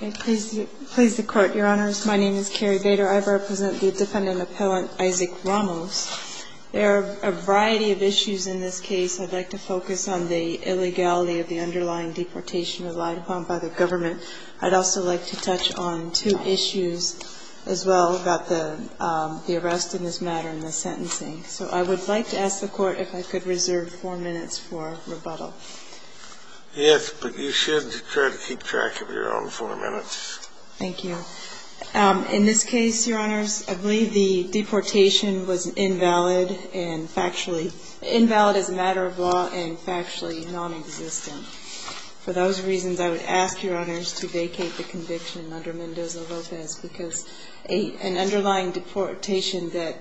There are a variety of issues in this case. I'd like to focus on the illegality of the underlying deportation relied upon by the government. I'd also like to touch on two issues as well about the arrest in this matter and the sentencing. So I would like to ask the court if I could reserve four minutes for rebuttal. Yes, but you should try to keep track of your own four minutes. Thank you. In this case, Your Honors, I believe the deportation was invalid and factually, invalid as a matter of law and factually nonexistent. For those reasons, I would ask Your Honors to vacate the conviction under Mendoza-Lopez because an underlying deportation that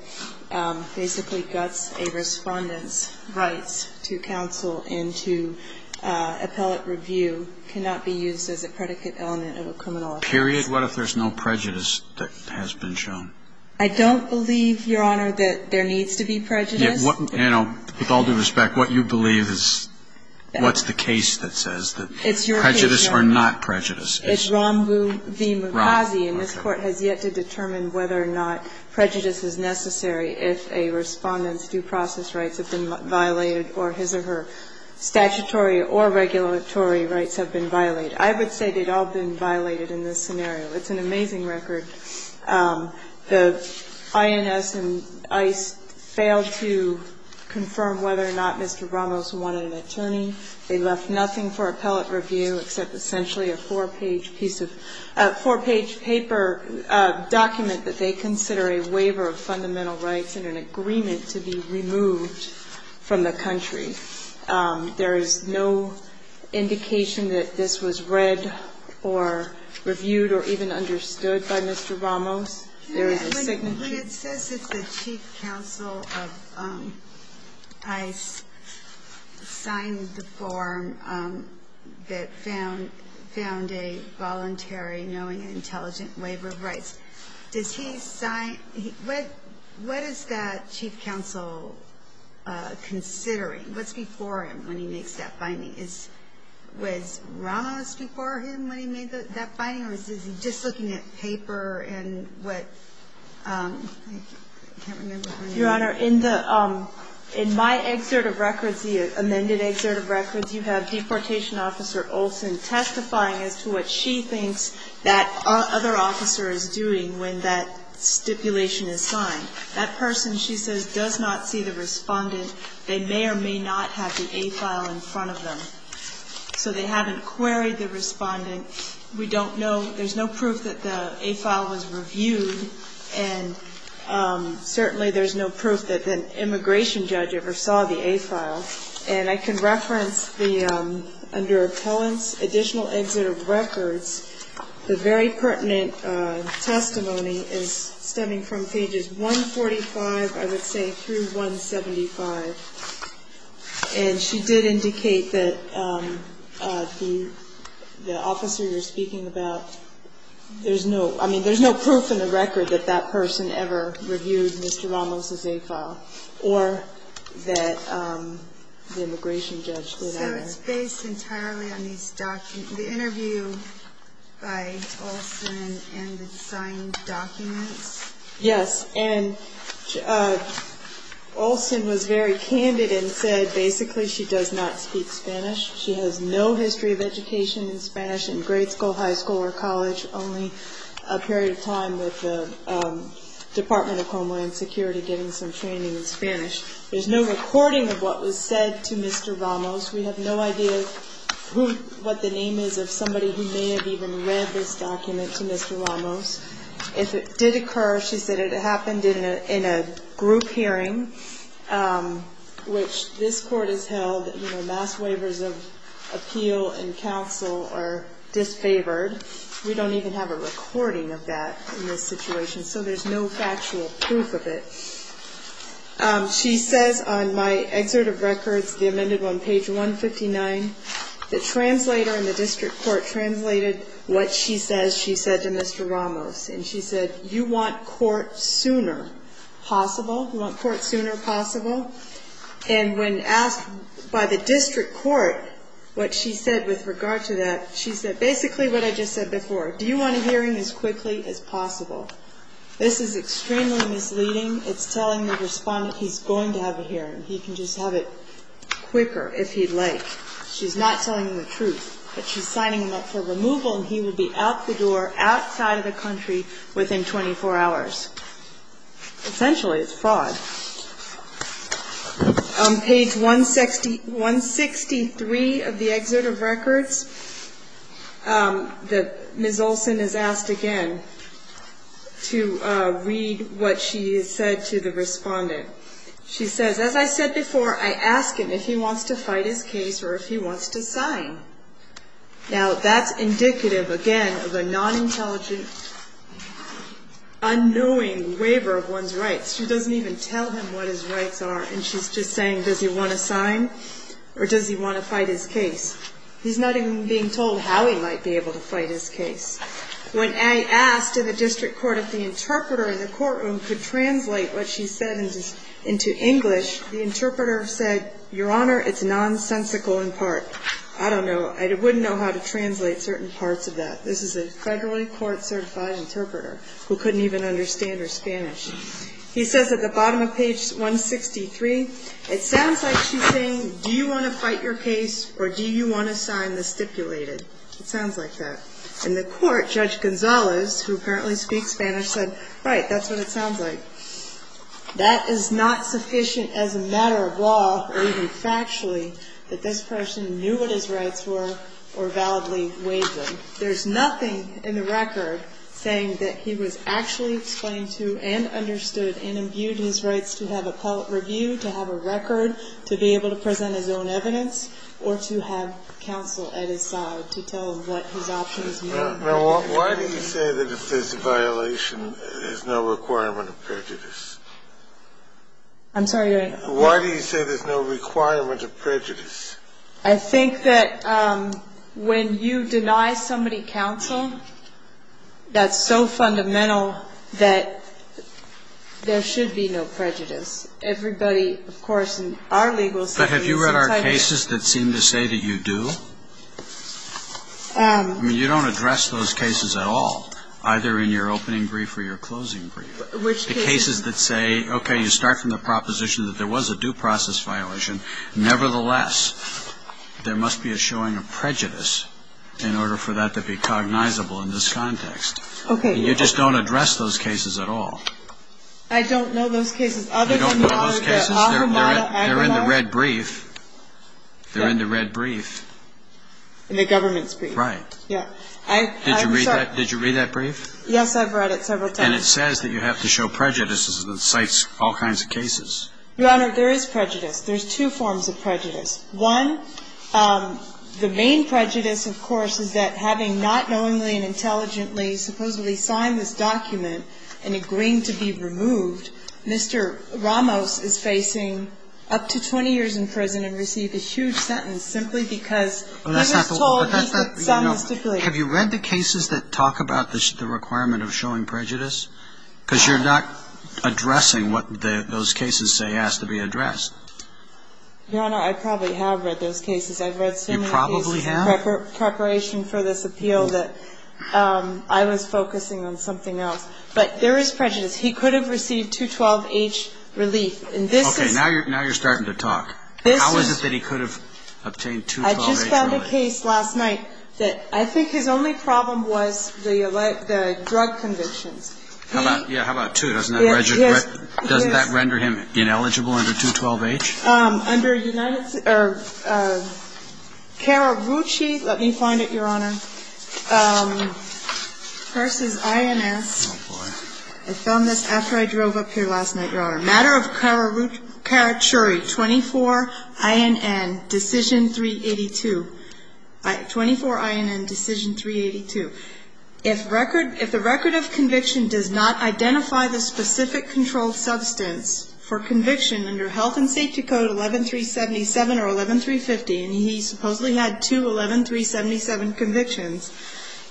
basically guts a respondent's rights to counsel and to appellate review cannot be used as a predicate element of a criminal offense. And I would like to ask the court if I could reserve four minutes for rebuttal. Thank you. It's an amazing record. The INS and ICE failed to confirm whether or not Mr. Ramos wanted an attorney. They left nothing for appellate review except essentially a four-page paper document that they consider a waiver of fundamental rights and an agreement to be removed from the country. There is no indication that this was read or reviewed or even understood by Mr. Ramos. There is a signature. When it says that the chief counsel of ICE signed the form that found a voluntary knowing and intelligent waiver of rights, does he sign? What is that chief counsel considering? What's before him when he makes that finding? Was Ramos before him when he made that finding or is he just looking at paper and what? I can't remember. Your Honor, in my excerpt of records, the amended excerpt of records, you have Deportation Officer Olson testifying as to what she thinks that other officer is doing when that stipulation is signed. That person, she says, does not see the respondent. They may or may not have the A file in front of them. So they haven't queried the respondent. We don't know. There's no proof that the A file was reviewed. And certainly there's no proof that an immigration judge ever saw the A file. And I can reference the, under Appellant's Additional Exit of Records, the very pertinent testimony is stemming from pages 145, I would say, through 175. And she did indicate that the officer you're speaking about, there's no, I mean, there's no proof in the record that that person ever reviewed Mr. Ramos' A file or that the immigration judge did not. So it's based entirely on these documents, the interview by Olson and the signed documents? Yes. And Olson was very candid and said basically she does not speak Spanish. She has no history of education in Spanish in grade school, high school or college, only a period of time with the Department of Homeland Security getting some training in Spanish. There's no recording of what was said to Mr. Ramos. We have no idea who, what the name is of somebody who may have even read this document to Mr. Ramos. If it did occur, she said it happened in a group hearing, which this court has held, you know, mass waivers of appeal and counsel are disfavored. We don't even have a recording of that in this situation, so there's no factual proof of it. She says on my Excerpt of Records, the amended one, page 159, the translator in the district court translated what she says she said to Mr. Ramos. And she said, you want court sooner possible? You want court sooner possible? And when asked by the district court what she said with regard to that, she said, basically what I just said before, do you want a hearing as quickly as possible? This is extremely misleading. It's telling the respondent he's going to have a hearing. He can just have it quicker if he'd like. She's not telling him the truth. But she's signing him up for removal and he would be out the door, outside of the country within 24 hours. Essentially, it's fraud. On page 163 of the Excerpt of Records, Ms. Olson is asked again to read what she said to the respondent. She says, as I said before, I ask him if he wants to fight his case or if he wants to sign. Now, that's indicative, again, of a non-intelligent, unknowing waiver of one's rights. She doesn't even tell him what his rights are, and she's just saying, does he want to sign or does he want to fight his case? He's not even being told how he might be able to fight his case. When I asked in the district court if the interpreter in the courtroom could translate what she said into English, the interpreter said, Your Honor, it's nonsensical in part. I don't know. I wouldn't know how to translate certain parts of that. This is a federally court-certified interpreter who couldn't even understand her Spanish. He says at the bottom of page 163, it sounds like she's saying, Do you want to fight your case or do you want to sign the stipulated? It sounds like that. In the court, Judge Gonzalez, who apparently speaks Spanish, said, Right, that's what it sounds like. That is not sufficient as a matter of law or even factually that this person knew what his rights were or validly waived them. There's nothing in the record saying that he was actually explained to and understood and imbued his rights to have a public review, to have a record, to be able to present his own evidence, or to have counsel at his side to tell him what his options were. Why do you say that if there's a violation, there's no requirement of prejudice? I'm sorry, Your Honor. Why do you say there's no requirement of prejudice? I think that when you deny somebody counsel, that's so fundamental that there should be no prejudice. Everybody, of course, in our legal system is entitled to prejudice. But have you read our cases that seem to say that you do? I mean, you don't address those cases at all, either in your opening brief or your closing brief. Which cases? Cases that say, okay, you start from the proposition that there was a due process violation. Nevertheless, there must be a showing of prejudice in order for that to be cognizable in this context. Okay. You just don't address those cases at all. I don't know those cases, other than the one that Ahur Mata agonized. They're in the red brief. They're in the red brief. In the government's brief. Right. Yeah. Did you read that brief? Yes, I've read it several times. And it says that you have to show prejudice. It cites all kinds of cases. Your Honor, there is prejudice. There's two forms of prejudice. One, the main prejudice, of course, is that having not knowingly and intelligently supposedly signed this document and agreeing to be removed, Mr. Ramos is facing up to 20 years in prison and received a huge sentence simply because he was told he did some stipulation. Have you read the cases that talk about the requirement of showing prejudice? Because you're not addressing what those cases say has to be addressed. Your Honor, I probably have read those cases. You probably have? I've read similar cases in preparation for this appeal that I was focusing on something else. But there is prejudice. He could have received 212H relief. Okay. Now you're starting to talk. How is it that he could have obtained 212H relief? I just found a case last night that I think his only problem was the drug convictions. Yeah, how about two? Doesn't that render him ineligible under 212H? Under United States or Karachuri, let me find it, Your Honor, versus INS. I found this after I drove up here last night, Your Honor. Matter of Karachuri, 24INN, Decision 382. 24INN, Decision 382. If the record of conviction does not identify the specific controlled substance for conviction under Health and Safety Code 11377 or 11350, and he supposedly had two 11377 convictions,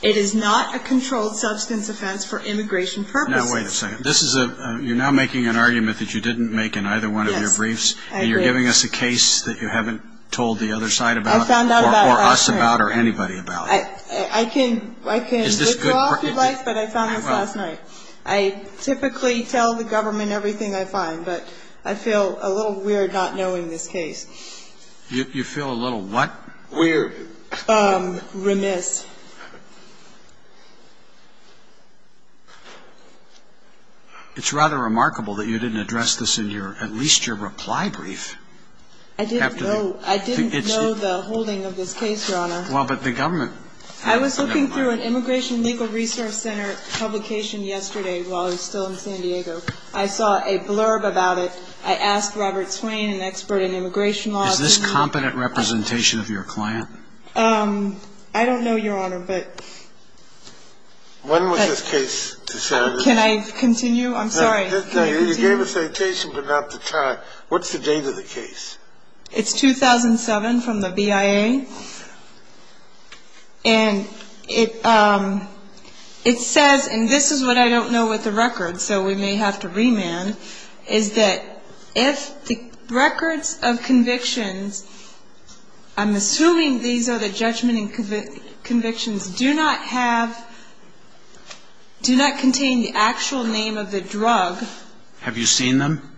it is not a controlled substance offense for immigration purposes. Now, wait a second. This is a – you're now making an argument that you didn't make in either one of your briefs. Yes, I did. And you're giving us a case that you haven't told the other side about or us about or anybody about. I can withdraw from life, but I found this last night. I typically tell the government everything I find, but I feel a little weird not knowing this case. You feel a little what? Weird. Remiss. It's rather remarkable that you didn't address this in your – at least your reply brief. I didn't know. I didn't know the holding of this case, Your Honor. Well, but the government – I was looking through an Immigration Legal Resource Center publication yesterday while I was still in San Diego. I saw a blurb about it. I asked Robert Swain, an expert in immigration law. Is this competent representation of your client? I don't know, Your Honor, but – When was this case decided? Can I continue? I'm sorry. You gave a citation, but not the time. What's the date of the case? It's 2007 from the BIA. And it says – and this is what I don't know with the record, so we may have to remand – is that if the records of convictions – I'm assuming these are the judgment and convictions – do not have – do not contain the actual name of the drug – Have you seen them?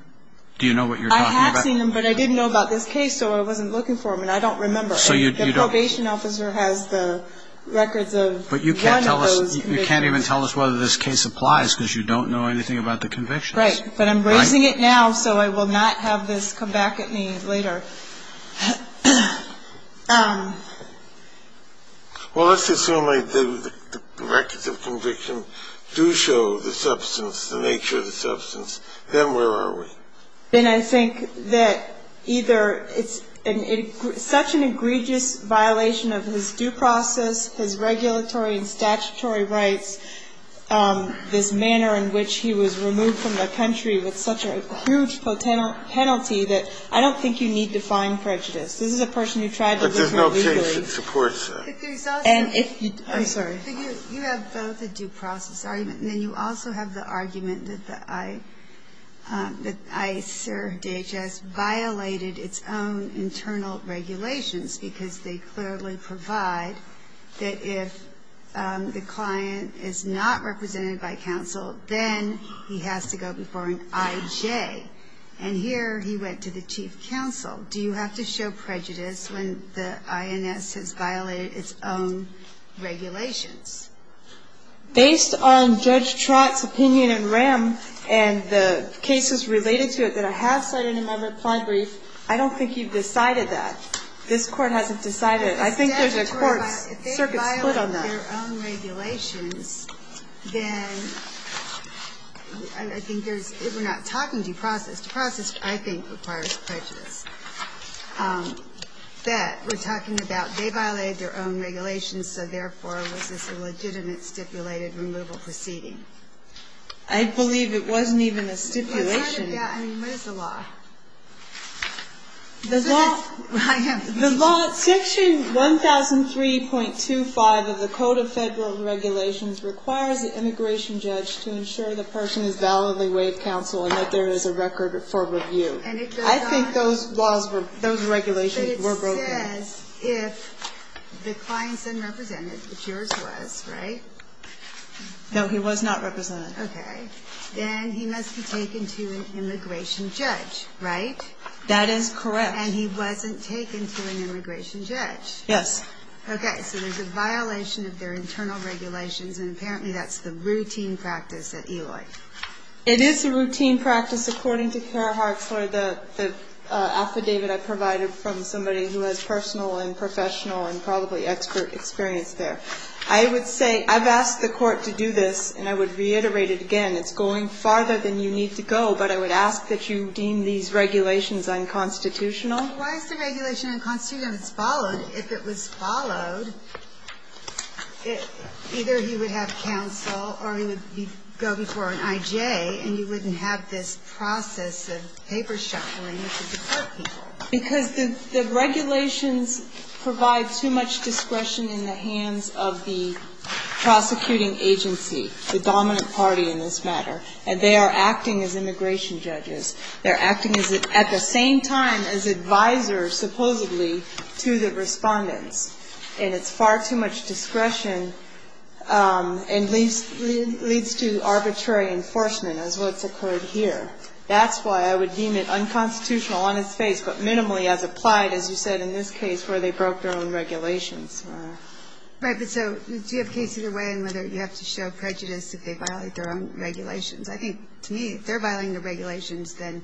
Do you know what you're talking about? I have seen them, but I didn't know about this case, so I wasn't looking for them, and I don't remember. So you don't – The probation officer has the records of one of those convictions. But you can't tell us – you can't even tell us whether this case applies because you don't know anything about the convictions. Right. But I'm raising it now, so I will not have this come back at me later. Well, let's assume the records of conviction do show the substance, the nature of the substance. Then where are we? Then I think that either it's such an egregious violation of his due process, his regulatory and statutory rights, this manner in which he was removed from the country with such a huge penalty that I don't think you need to find prejudice. This is a person who tried to go through a legal agenda. But there's no case that supports that. But there's also – I'm sorry. But you have both a due process argument, and then you also have the argument that the ICER, DHS, violated its own internal regulations because they clearly provide that if the client is not represented by counsel, then he has to go before an IJ. And here he went to the chief counsel. Do you have to show prejudice when the INS has violated its own regulations? Based on Judge Trott's opinion in RAM and the cases related to it that I have cited in my reply brief, I don't think you've decided that. This Court hasn't decided it. I think there's a court's circuit split on that. If they violated their own regulations, then I think there's – we're not talking due process. Due process, I think, requires prejudice. That we're talking about they violated their own regulations, so therefore was this a legitimate stipulated removal proceeding. I believe it wasn't even a stipulation. Yeah, I mean, what is the law? The law – I am – The law – Section 1003.25 of the Code of Federal Regulations requires the immigration judge to ensure the person has validly waived counsel and that there is a record for review. And it goes on – I think those laws were – those regulations were broken. But it says if the client's unrepresented, which yours was, right? No, he was not represented. Okay. Then he must be taken to an immigration judge, right? That is correct. And he wasn't taken to an immigration judge. Yes. Okay, so there's a violation of their internal regulations, and apparently that's the routine practice at Eloy. It is a routine practice, according to Kara Hartzler, the affidavit I provided from somebody who has personal and professional and probably expert experience there. I would say I've asked the Court to do this, and I would reiterate it again. It's going farther than you need to go, but I would ask that you deem these regulations unconstitutional. Why is the regulation unconstitutional if it's followed? If it was followed, either he would have counsel or he would go before an I.J. and you wouldn't have this process of paper shuffling with the court people. Because the regulations provide too much discretion in the hands of the prosecuting agency, the dominant party in this matter, and they are acting as immigration judges. They're acting at the same time as advisors, supposedly, to the respondents, and it's far too much discretion and leads to arbitrary enforcement as what's occurred here. That's why I would deem it unconstitutional on its face, but minimally as applied, as you said in this case, where they broke their own regulations. Right. But so do you have a case either way in whether you have to show prejudice if they violate their own regulations? I think, to me, if they're violating their regulations, then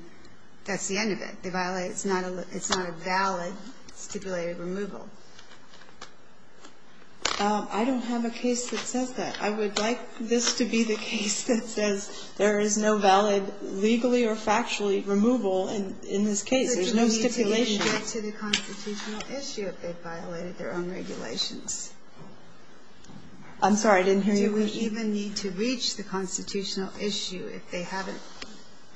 that's the end of it. They violate it. It's not a valid stipulated removal. I don't have a case that says that. I would like this to be the case that says there is no valid legally or factually removal in this case. There's no stipulation. But do we need to even get to the constitutional issue if they violated their own regulations? I'm sorry. I didn't hear you. Do we even need to reach the constitutional issue if they haven't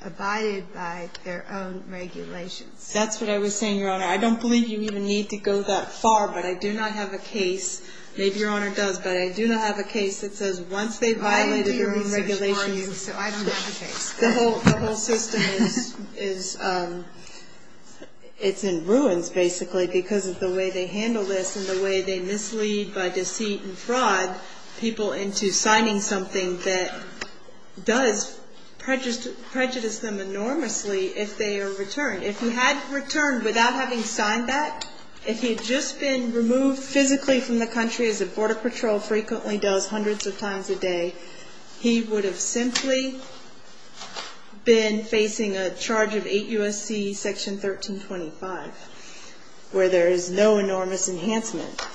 abided by their own regulations? That's what I was saying, Your Honor. I don't believe you even need to go that far. But I do not have a case. Maybe Your Honor does. But I do not have a case that says once they violated their own regulations So I don't have a case. The whole system is in ruins, basically, because of the way they handle this and the way they mislead by deceit and fraud people into signing something that does prejudice them enormously if they are returned. If he had returned without having signed that, if he had just been removed physically from the country as the Border Patrol frequently does hundreds of times a day, he would have simply been facing a charge of 8 U.S.C. Section 1325 where there is no enormous enhancement.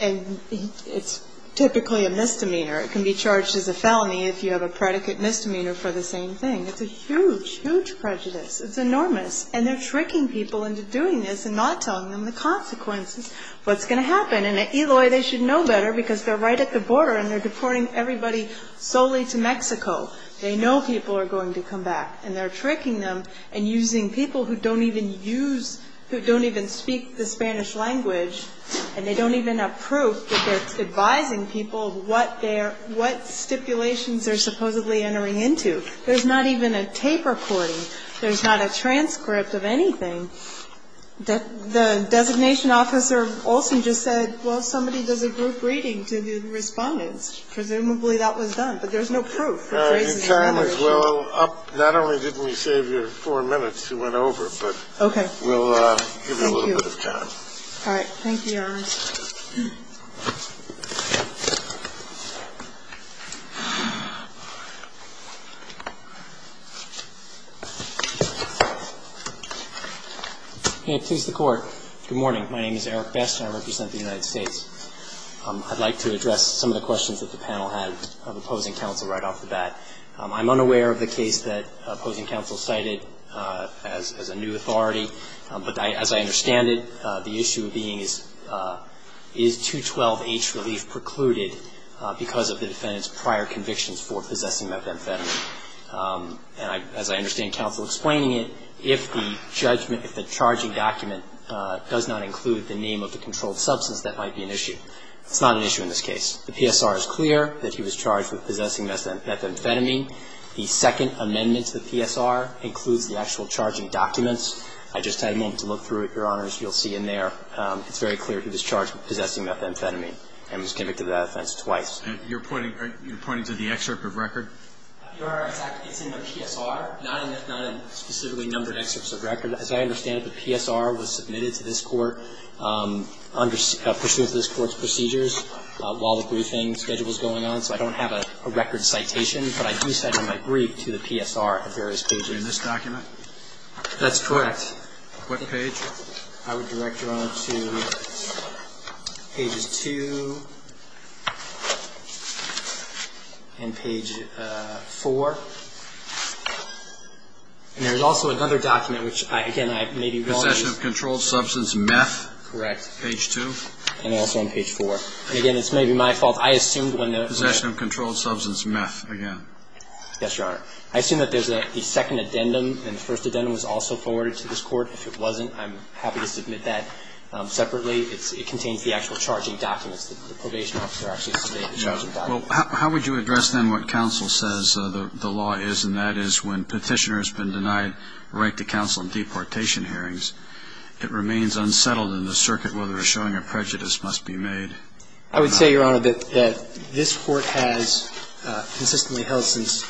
And it's typically a misdemeanor. It can be charged as a felony if you have a predicate misdemeanor for the same thing. It's a huge, huge prejudice. It's enormous. And they're tricking people into doing this and not telling them the consequences, what's going to happen. And at Eloy, they should know better because they're right at the border and they're deporting everybody solely to Mexico. They know people are going to come back. And they're tricking them and using people who don't even use, who don't even speak the Spanish language, and they don't even have proof that they're advising people what stipulations they're supposedly entering into. There's not even a tape recording. There's not a transcript of anything. The designation officer also just said, well, somebody does a group reading to the respondents. Presumably that was done. But there's no proof. The time is well up. Not only did we save you four minutes, you went over, but we'll give you a little bit of time. All right. Thank you, Your Honor. Eric Best. Good morning. My name is Eric Best, and I represent the United States. I'd like to address some of the questions that the panel had of opposing counsel right off the bat. I'm unaware of the case that opposing counsel cited as a new authority. Is 212H relief precluded because of the defendant's prior convictions for possessing methamphetamine? And as I understand counsel explaining it, if the judgment, if the charging document does not include the name of the controlled substance, that might be an issue. It's not an issue in this case. The PSR is clear that he was charged with possessing methamphetamine. The second amendment to the PSR includes the actual charging documents. I just had a moment to look through it, Your Honors. You'll see in there. It's very clear he was charged with possessing methamphetamine and was convicted of that offense twice. And you're pointing to the excerpt of record? Your Honor, it's in the PSR, not in specifically numbered excerpts of record. As I understand it, the PSR was submitted to this Court pursuant to this Court's procedures while the briefing schedule was going on. So I don't have a record citation, but I do cite it in my brief to the PSR at various pages. In this document? That's correct. What page? I would direct Your Honor to pages 2 and page 4. And there's also another document which, again, I may be wrong. Possession of controlled substance meth? Correct. Page 2? And also on page 4. Again, it's maybe my fault. I assumed when the – Possession of controlled substance meth, again. Yes, Your Honor. I would say, Your Honor, that this Court has consistently held since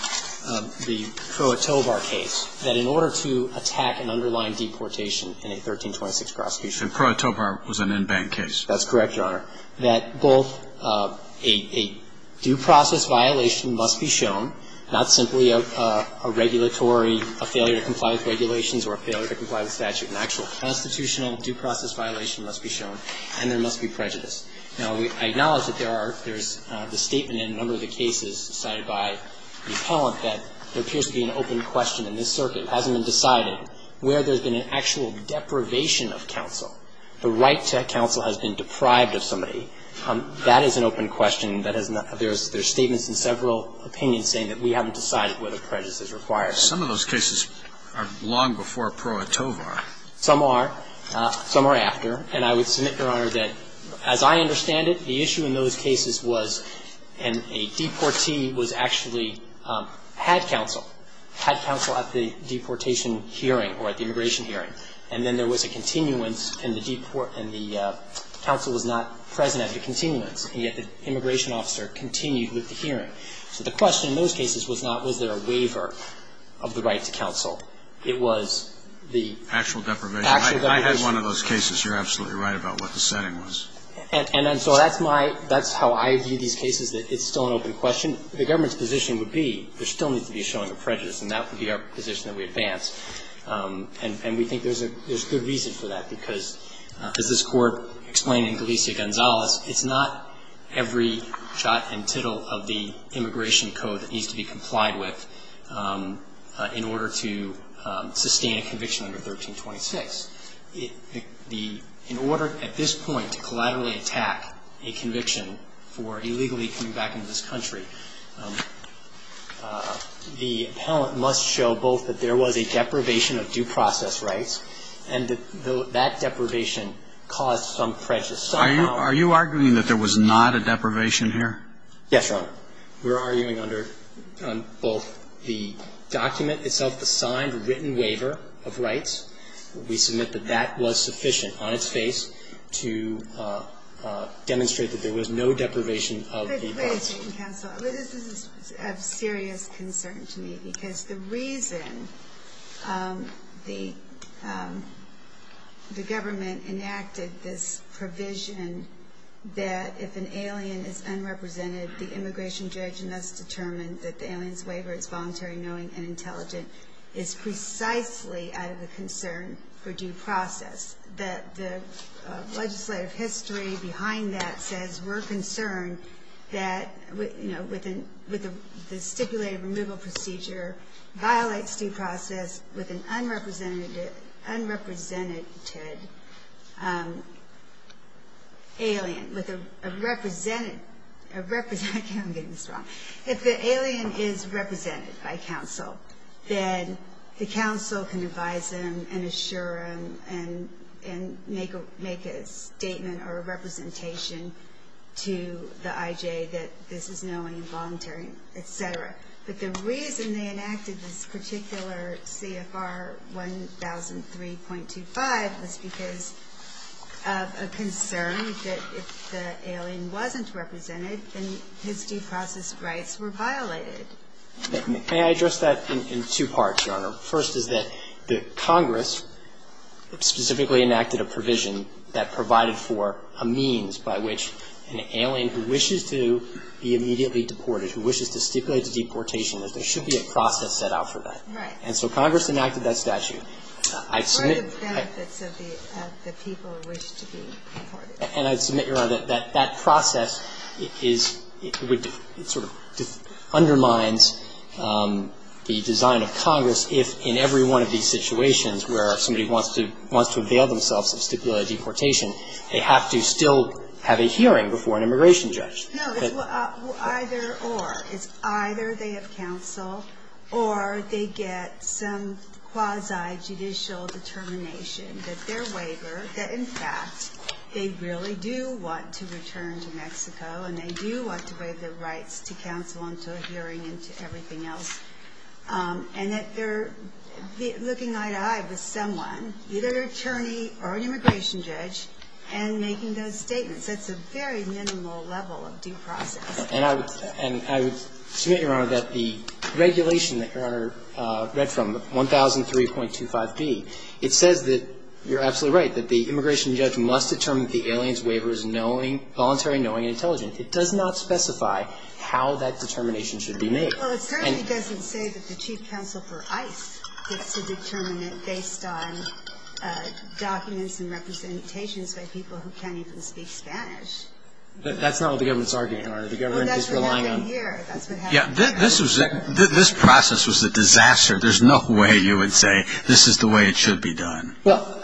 the Kroot-Tobar case that in order to attack an underlying deportation charge, it has to submit a charge And Kroot-Tobar was an in-bank case? That's correct, Your Honor. That both a due process violation must be shown, not simply a regulatory – a failure to comply with regulations or a failure to comply with statute. An actual constitutional due process violation must be shown, and there must be prejudice. Now, I acknowledge that there are – there's the statement in a number of the cases cited by the appellant that there appears to be an open question in this circuit. It hasn't been decided where there's been an actual deprivation of counsel. The right to counsel has been deprived of somebody. That is an open question. There's statements in several opinions saying that we haven't decided where the prejudice is required. Some of those cases are long before Perot-Tobar. Some are. Some are after. And I would submit, Your Honor, that as I understand it, the issue in those cases was – and a deportee was actually – had counsel. Had counsel at the deportation hearing or at the immigration hearing. And then there was a continuance, and the counsel was not present at the continuance, and yet the immigration officer continued with the hearing. So the question in those cases was not was there a waiver of the right to counsel. It was the actual deprivation. I had one of those cases. You're absolutely right about what the setting was. And so that's my – that's how I view these cases, that it's still an open question. The government's position would be there still needs to be a showing of prejudice, and that would be our position that we advance. And we think there's good reason for that, because as this Court explained in Galicia-Gonzalez, it's not every jot and tittle of the immigration code that needs to be complied with in order to sustain a conviction under 1326. In order at this point to collaterally attack a conviction for illegally coming back into this country, the appellant must show both that there was a deprivation of due process rights and that that deprivation caused some prejudice somehow. Are you arguing that there was not a deprivation here? Yes, Your Honor. We're arguing under both the document itself, the signed written waiver of rights. We submit that that was sufficient on its face to demonstrate that there was no deprivation of the process. Wait a second, counsel. This is of serious concern to me, because the reason the government enacted this provision that if an alien is unrepresented, the immigration judge must determine that the alien's knowing and intelligent is precisely out of a concern for due process. The legislative history behind that says we're concerned that, you know, with the stipulated removal procedure violates due process with an unrepresented alien. I'm getting this wrong. If the alien is represented by counsel, then the counsel can advise them and assure them and make a statement or a representation to the IJ that this is no involuntary, etc. But the reason they enacted this particular CFR 1003.25 was because of a concern that if the alien wasn't represented, then his due process rights were violated. May I address that in two parts, Your Honor? First is that the Congress specifically enacted a provision that provided for a means by which an alien who wishes to be immediately deported, who wishes to stipulate the deportation, there should be a process set out for that. Right. And so Congress enacted that statute. I submit. For the benefits of the people who wish to be deported. And I submit, Your Honor, that that process is sort of undermines the design of Congress if in every one of these situations where somebody wants to avail themselves of stipulated deportation, they have to still have a hearing before an immigration judge. No, it's either or. It's either they have counsel or they get some quasi-judicial determination that their waiver, that, in fact, they really do want to return to Mexico and they do want to waive their rights to counsel until a hearing and to everything else, and that they're looking eye to eye with someone, either an attorney or an immigration judge, and making those statements. That's a very minimal level of due process. And I would submit, Your Honor, that the regulation that Your Honor read from, 1003.25b, it says that you're absolutely right, that the immigration judge must determine if the alien's waiver is voluntary, knowing, and intelligent. It does not specify how that determination should be made. Well, it certainly doesn't say that the chief counsel for ICE gets to determine it based on documents and representations by people who can't even speak Spanish. That's not what the government's arguing, Your Honor. The government is relying on. Well, that's what happened here. That's what happened here. Yeah. This process was a disaster. There's no way you would say this is the way it should be done. Well,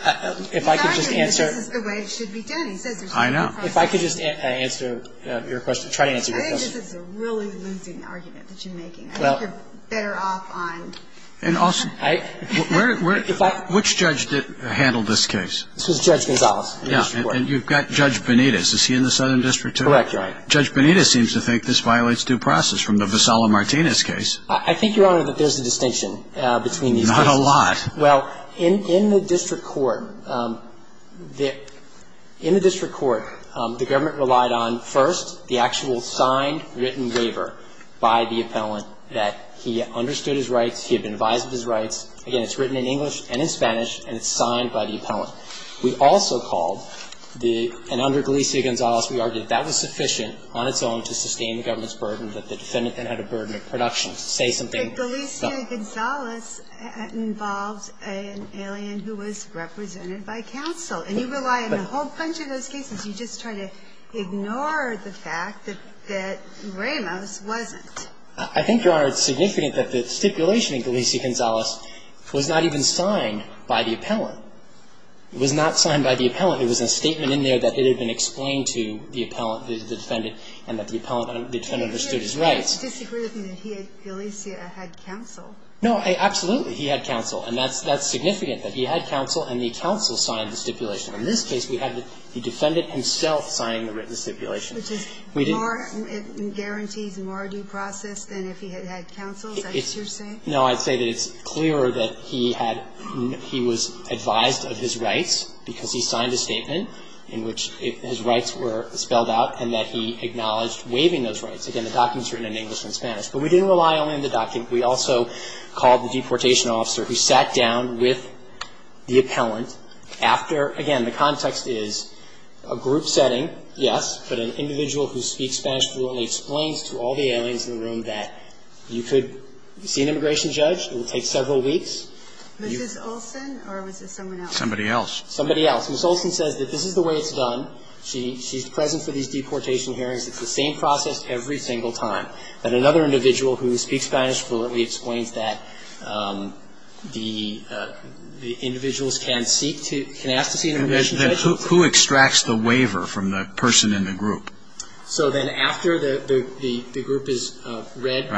if I could just answer. He's arguing that this is the way it should be done. He says there's no problem. I know. If I could just answer your question, try to answer your question. I think this is a really losing argument that you're making. I think you're better off on. And also, which judge handled this case? This was Judge Gonzales. Yeah. And you've got Judge Benitez. Is he in the Southern District, too? Correct. Judge Benitez seems to think this violates due process from the Vassallo-Martinez case. I think, Your Honor, that there's a distinction between these cases. Not a lot. Well, in the district court, the government relied on, first, the actual signed, And so, in this case, the defendant had been advised of his rights. He had been advised of his rights. Again, it's written in English and in Spanish, and it's signed by the appellant. We also called the – and under Galicia-Gonzales, we argued that that was sufficient on its own to sustain the government's burden, that the defendant then had a burden of production to say something. But Galicia-Gonzales involves an alien who was represented by counsel. And you rely on a whole bunch of those cases. You just try to ignore the fact that Ramos wasn't. I think, Your Honor, it's significant that the stipulation in Galicia-Gonzales was not even signed by the appellant. It was not signed by the appellant. It was a statement in there that it had been explained to the defendant and that the defendant understood his rights. But you're disagreeing with me that Galicia had counsel. No, absolutely, he had counsel. And that's significant, that he had counsel and the counsel signed the stipulation. In this case, we had the defendant himself signing the written stipulation. We didn't – Which is more – it guarantees more due process than if he had had counsel. Is that what you're saying? No. I'd say that it's clearer that he had – he was advised of his rights because he signed a statement in which his rights were spelled out and that he acknowledged waiving those rights. Again, the document's written in English and Spanish. But we didn't rely only on the document. We also called the deportation officer who sat down with the appellant after, again, the context is a group setting, yes, but an individual who speaks Spanish fluently explains to all the aliens in the room that you could see an immigration judge. It will take several weeks. Mrs. Olson or was it someone else? Somebody else. Somebody else. Mrs. Olson says that this is the way it's done. She's present for these deportation hearings. It's the same process every single time. But another individual who speaks Spanish fluently explains that the individuals can ask to see an immigration judge. Who extracts the waiver from the person in the group? So then after the group has read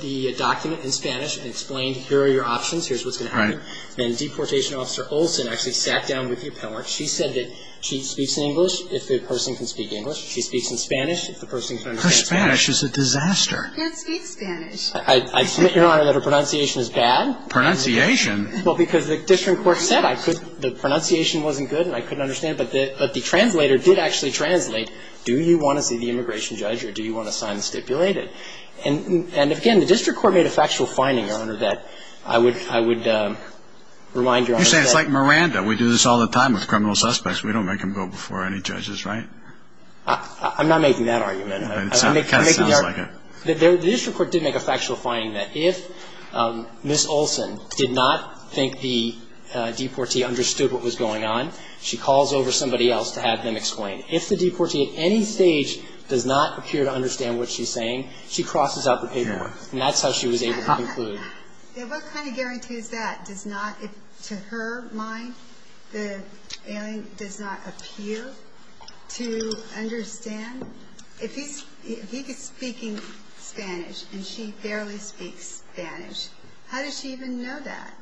the document in Spanish and explained, here are your options, here's what's going to happen, then deportation officer Olson actually sat down with the appellant. She said that she speaks English if the person can speak English. She speaks in Spanish if the person can understand Spanish. Her Spanish is a disaster. Can't speak Spanish. I submit, Your Honor, that her pronunciation is bad. Pronunciation? Well, because the district court said the pronunciation wasn't good and I couldn't understand it. But the translator did actually translate, do you want to see the immigration judge or do you want to sign the stipulated? And, again, the district court made a factual finding, Your Honor, that I would remind Your Honor. You say it's like Miranda. We do this all the time with criminal suspects. We don't make them go before any judges, right? I'm not making that argument. It kind of sounds like it. The district court did make a factual finding that if Ms. Olson did not think the deportee understood what was going on, she calls over somebody else to have them explain. If the deportee at any stage does not appear to understand what she's saying, she crosses out the paperwork, and that's how she was able to conclude. What kind of guarantee is that? Does not, to her mind, the alien does not appear to understand? If he is speaking Spanish and she barely speaks Spanish, how does she even know that?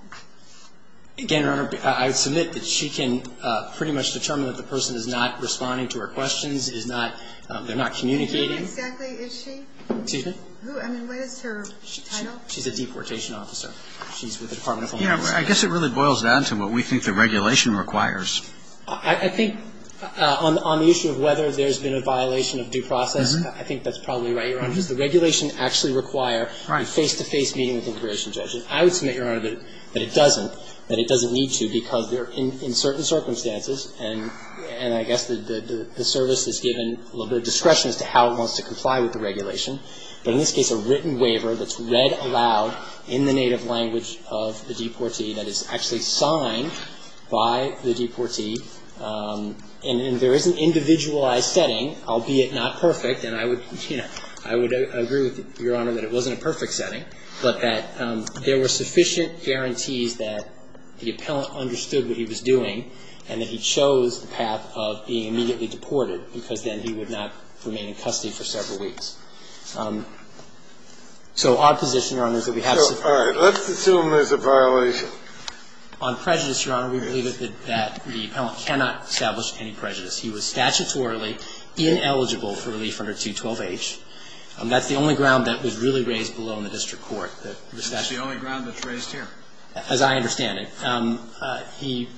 Again, Your Honor, I would submit that she can pretty much determine that the person is not responding to her questions, is not, they're not communicating. Who exactly is she? Excuse me? Who, I mean, what is her title? She's a deportation officer. She's with the Department of Homeland Security. I guess it really boils down to what we think the regulation requires. I think on the issue of whether there's been a violation of due process, I think that's probably right, Your Honor, because the regulation actually require a face-to-face meeting with the immigration And I would submit, Your Honor, that it doesn't, that it doesn't need to because they're in certain circumstances, and I guess the service is given a little bit of discretion as to how it wants to comply with the regulation. But in this case, a written waiver that's read aloud in the native language of the deportee, and there is an individualized setting, albeit not perfect, and I would, you know, I would agree with Your Honor that it wasn't a perfect setting, but that there were sufficient guarantees that the appellant understood what he was doing and that he chose the path of being immediately deported because then he would not remain in custody for several weeks. So our position, Your Honor, is that we have sufficient guarantees. So, all right. Let's assume there's a violation. On prejudice, Your Honor, we believe that the appellant cannot establish any prejudice. He was statutorily ineligible for relief under 212H. That's the only ground that was really raised below in the district court. That was statutorily. That's the only ground that's raised here. As I understand it. He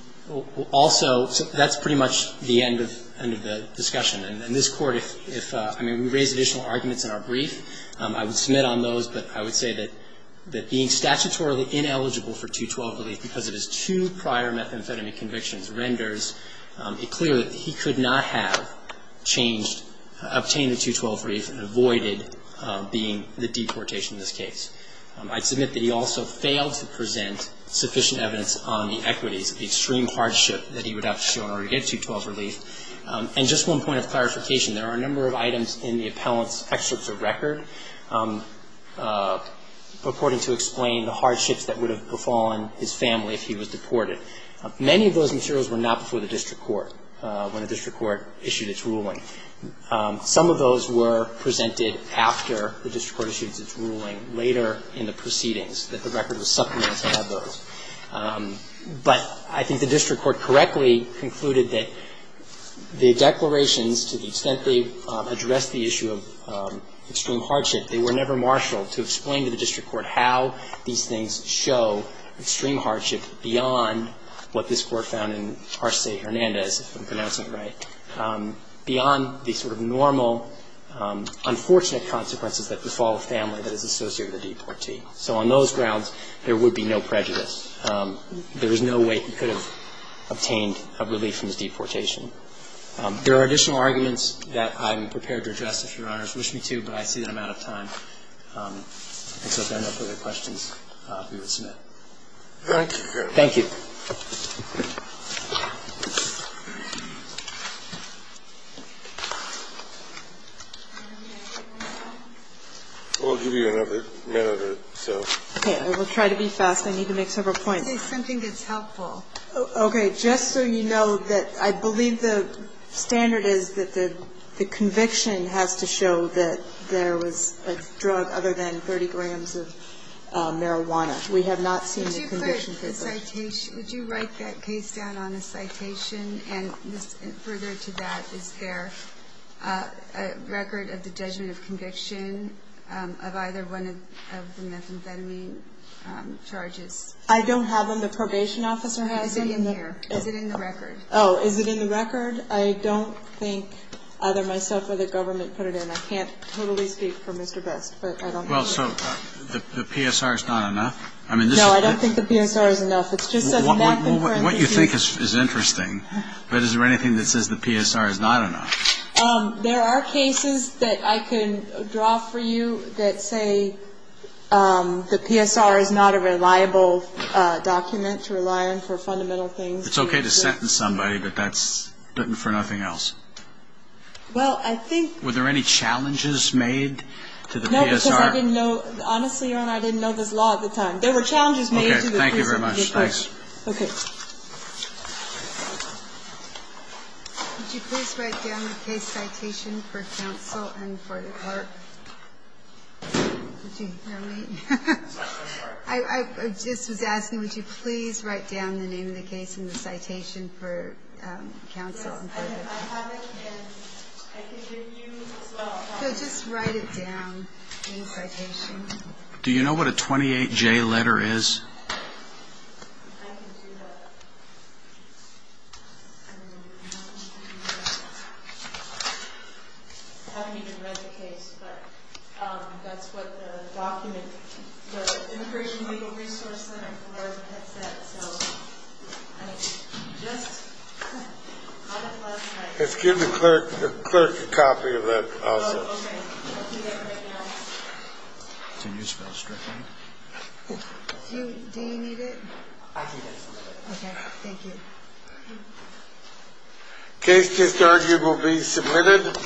also, that's pretty much the end of the discussion. And this Court, if, I mean, we raise additional arguments in our brief, I would submit on those, but I would say that being statutorily ineligible for 212 relief because of his two prior methamphetamine convictions renders it clear that he could not have changed, obtained a 212 relief and avoided being the deportation in this case. I'd submit that he also failed to present sufficient evidence on the equities, the extreme hardship that he would have to show in order to get 212 relief. And just one point of clarification, there are a number of items in the appellant's excerpts of record purporting to explain the hardships that would have befallen his family if he was deported. Many of those materials were not before the district court when the district court issued its ruling. Some of those were presented after the district court issued its ruling, later in the proceedings, that the record was supplemented to have those. But I think the district court correctly concluded that the declarations, to the extent they addressed the issue of extreme hardship, they were never marshaled to explain to the district court how these things show extreme hardship beyond what this Court found in Arce Hernandez, if I'm pronouncing it right, beyond the sort of normal, unfortunate consequences that befall a family that is associated with a deportee. So on those grounds, there would be no prejudice. There is no way he could have obtained a relief from his deportation. There are additional arguments that I'm prepared to address, if Your Honors wish me to, but I see that I'm out of time. And so if there are no further questions, we would submit. Thank you. Thank you. I'll give you another minute or so. Okay. I will try to be fast. I need to make several points. I think something that's helpful. Okay. Just so you know that I believe the standard is that the conviction has to show that there was a drug other than 30 grams of marijuana. We have not seen the conviction paper. Would you write that case down on a citation? And further to that, is there a record of the judgment of conviction of either one of the methamphetamine charges? I don't have them. The probation officer has them. Is it in here? Is it in the record? Oh, is it in the record? I don't think either myself or the government put it in. I can't totally speak for Mr. Best, but I don't believe it. Well, so the PSR is not enough? No, I don't think the PSR is enough. It just says methamphetamine. What you think is interesting, but is there anything that says the PSR is not enough? There are cases that I can draw for you that say the PSR is not a reliable document to rely on for fundamental things. It's okay to sentence somebody, but that's for nothing else. Were there any challenges made to the PSR? No, because I didn't know. Honestly, Your Honor, I didn't know this law at the time. There were challenges made to the PSR. Okay. Thank you very much. Thanks. Okay. Would you please write down the case citation for counsel and for the court? Did you hear me? I'm sorry. I just was asking, would you please write down the name of the case and the citation for counsel and for the court? Yes, I have it, and I can give you as well. No, just write it down in the citation. Do you know what a 28J letter is? I can do that. I haven't even read the case, but that's what the document, the Immigration Legal Resource Center for Florida had said. So I just had it last night. Just give the clerk a copy of that also. Oh, okay. I'll do that right now. Can you spell strictly? Do you need it? I need it. Okay. Thank you. Case to start will be submitted.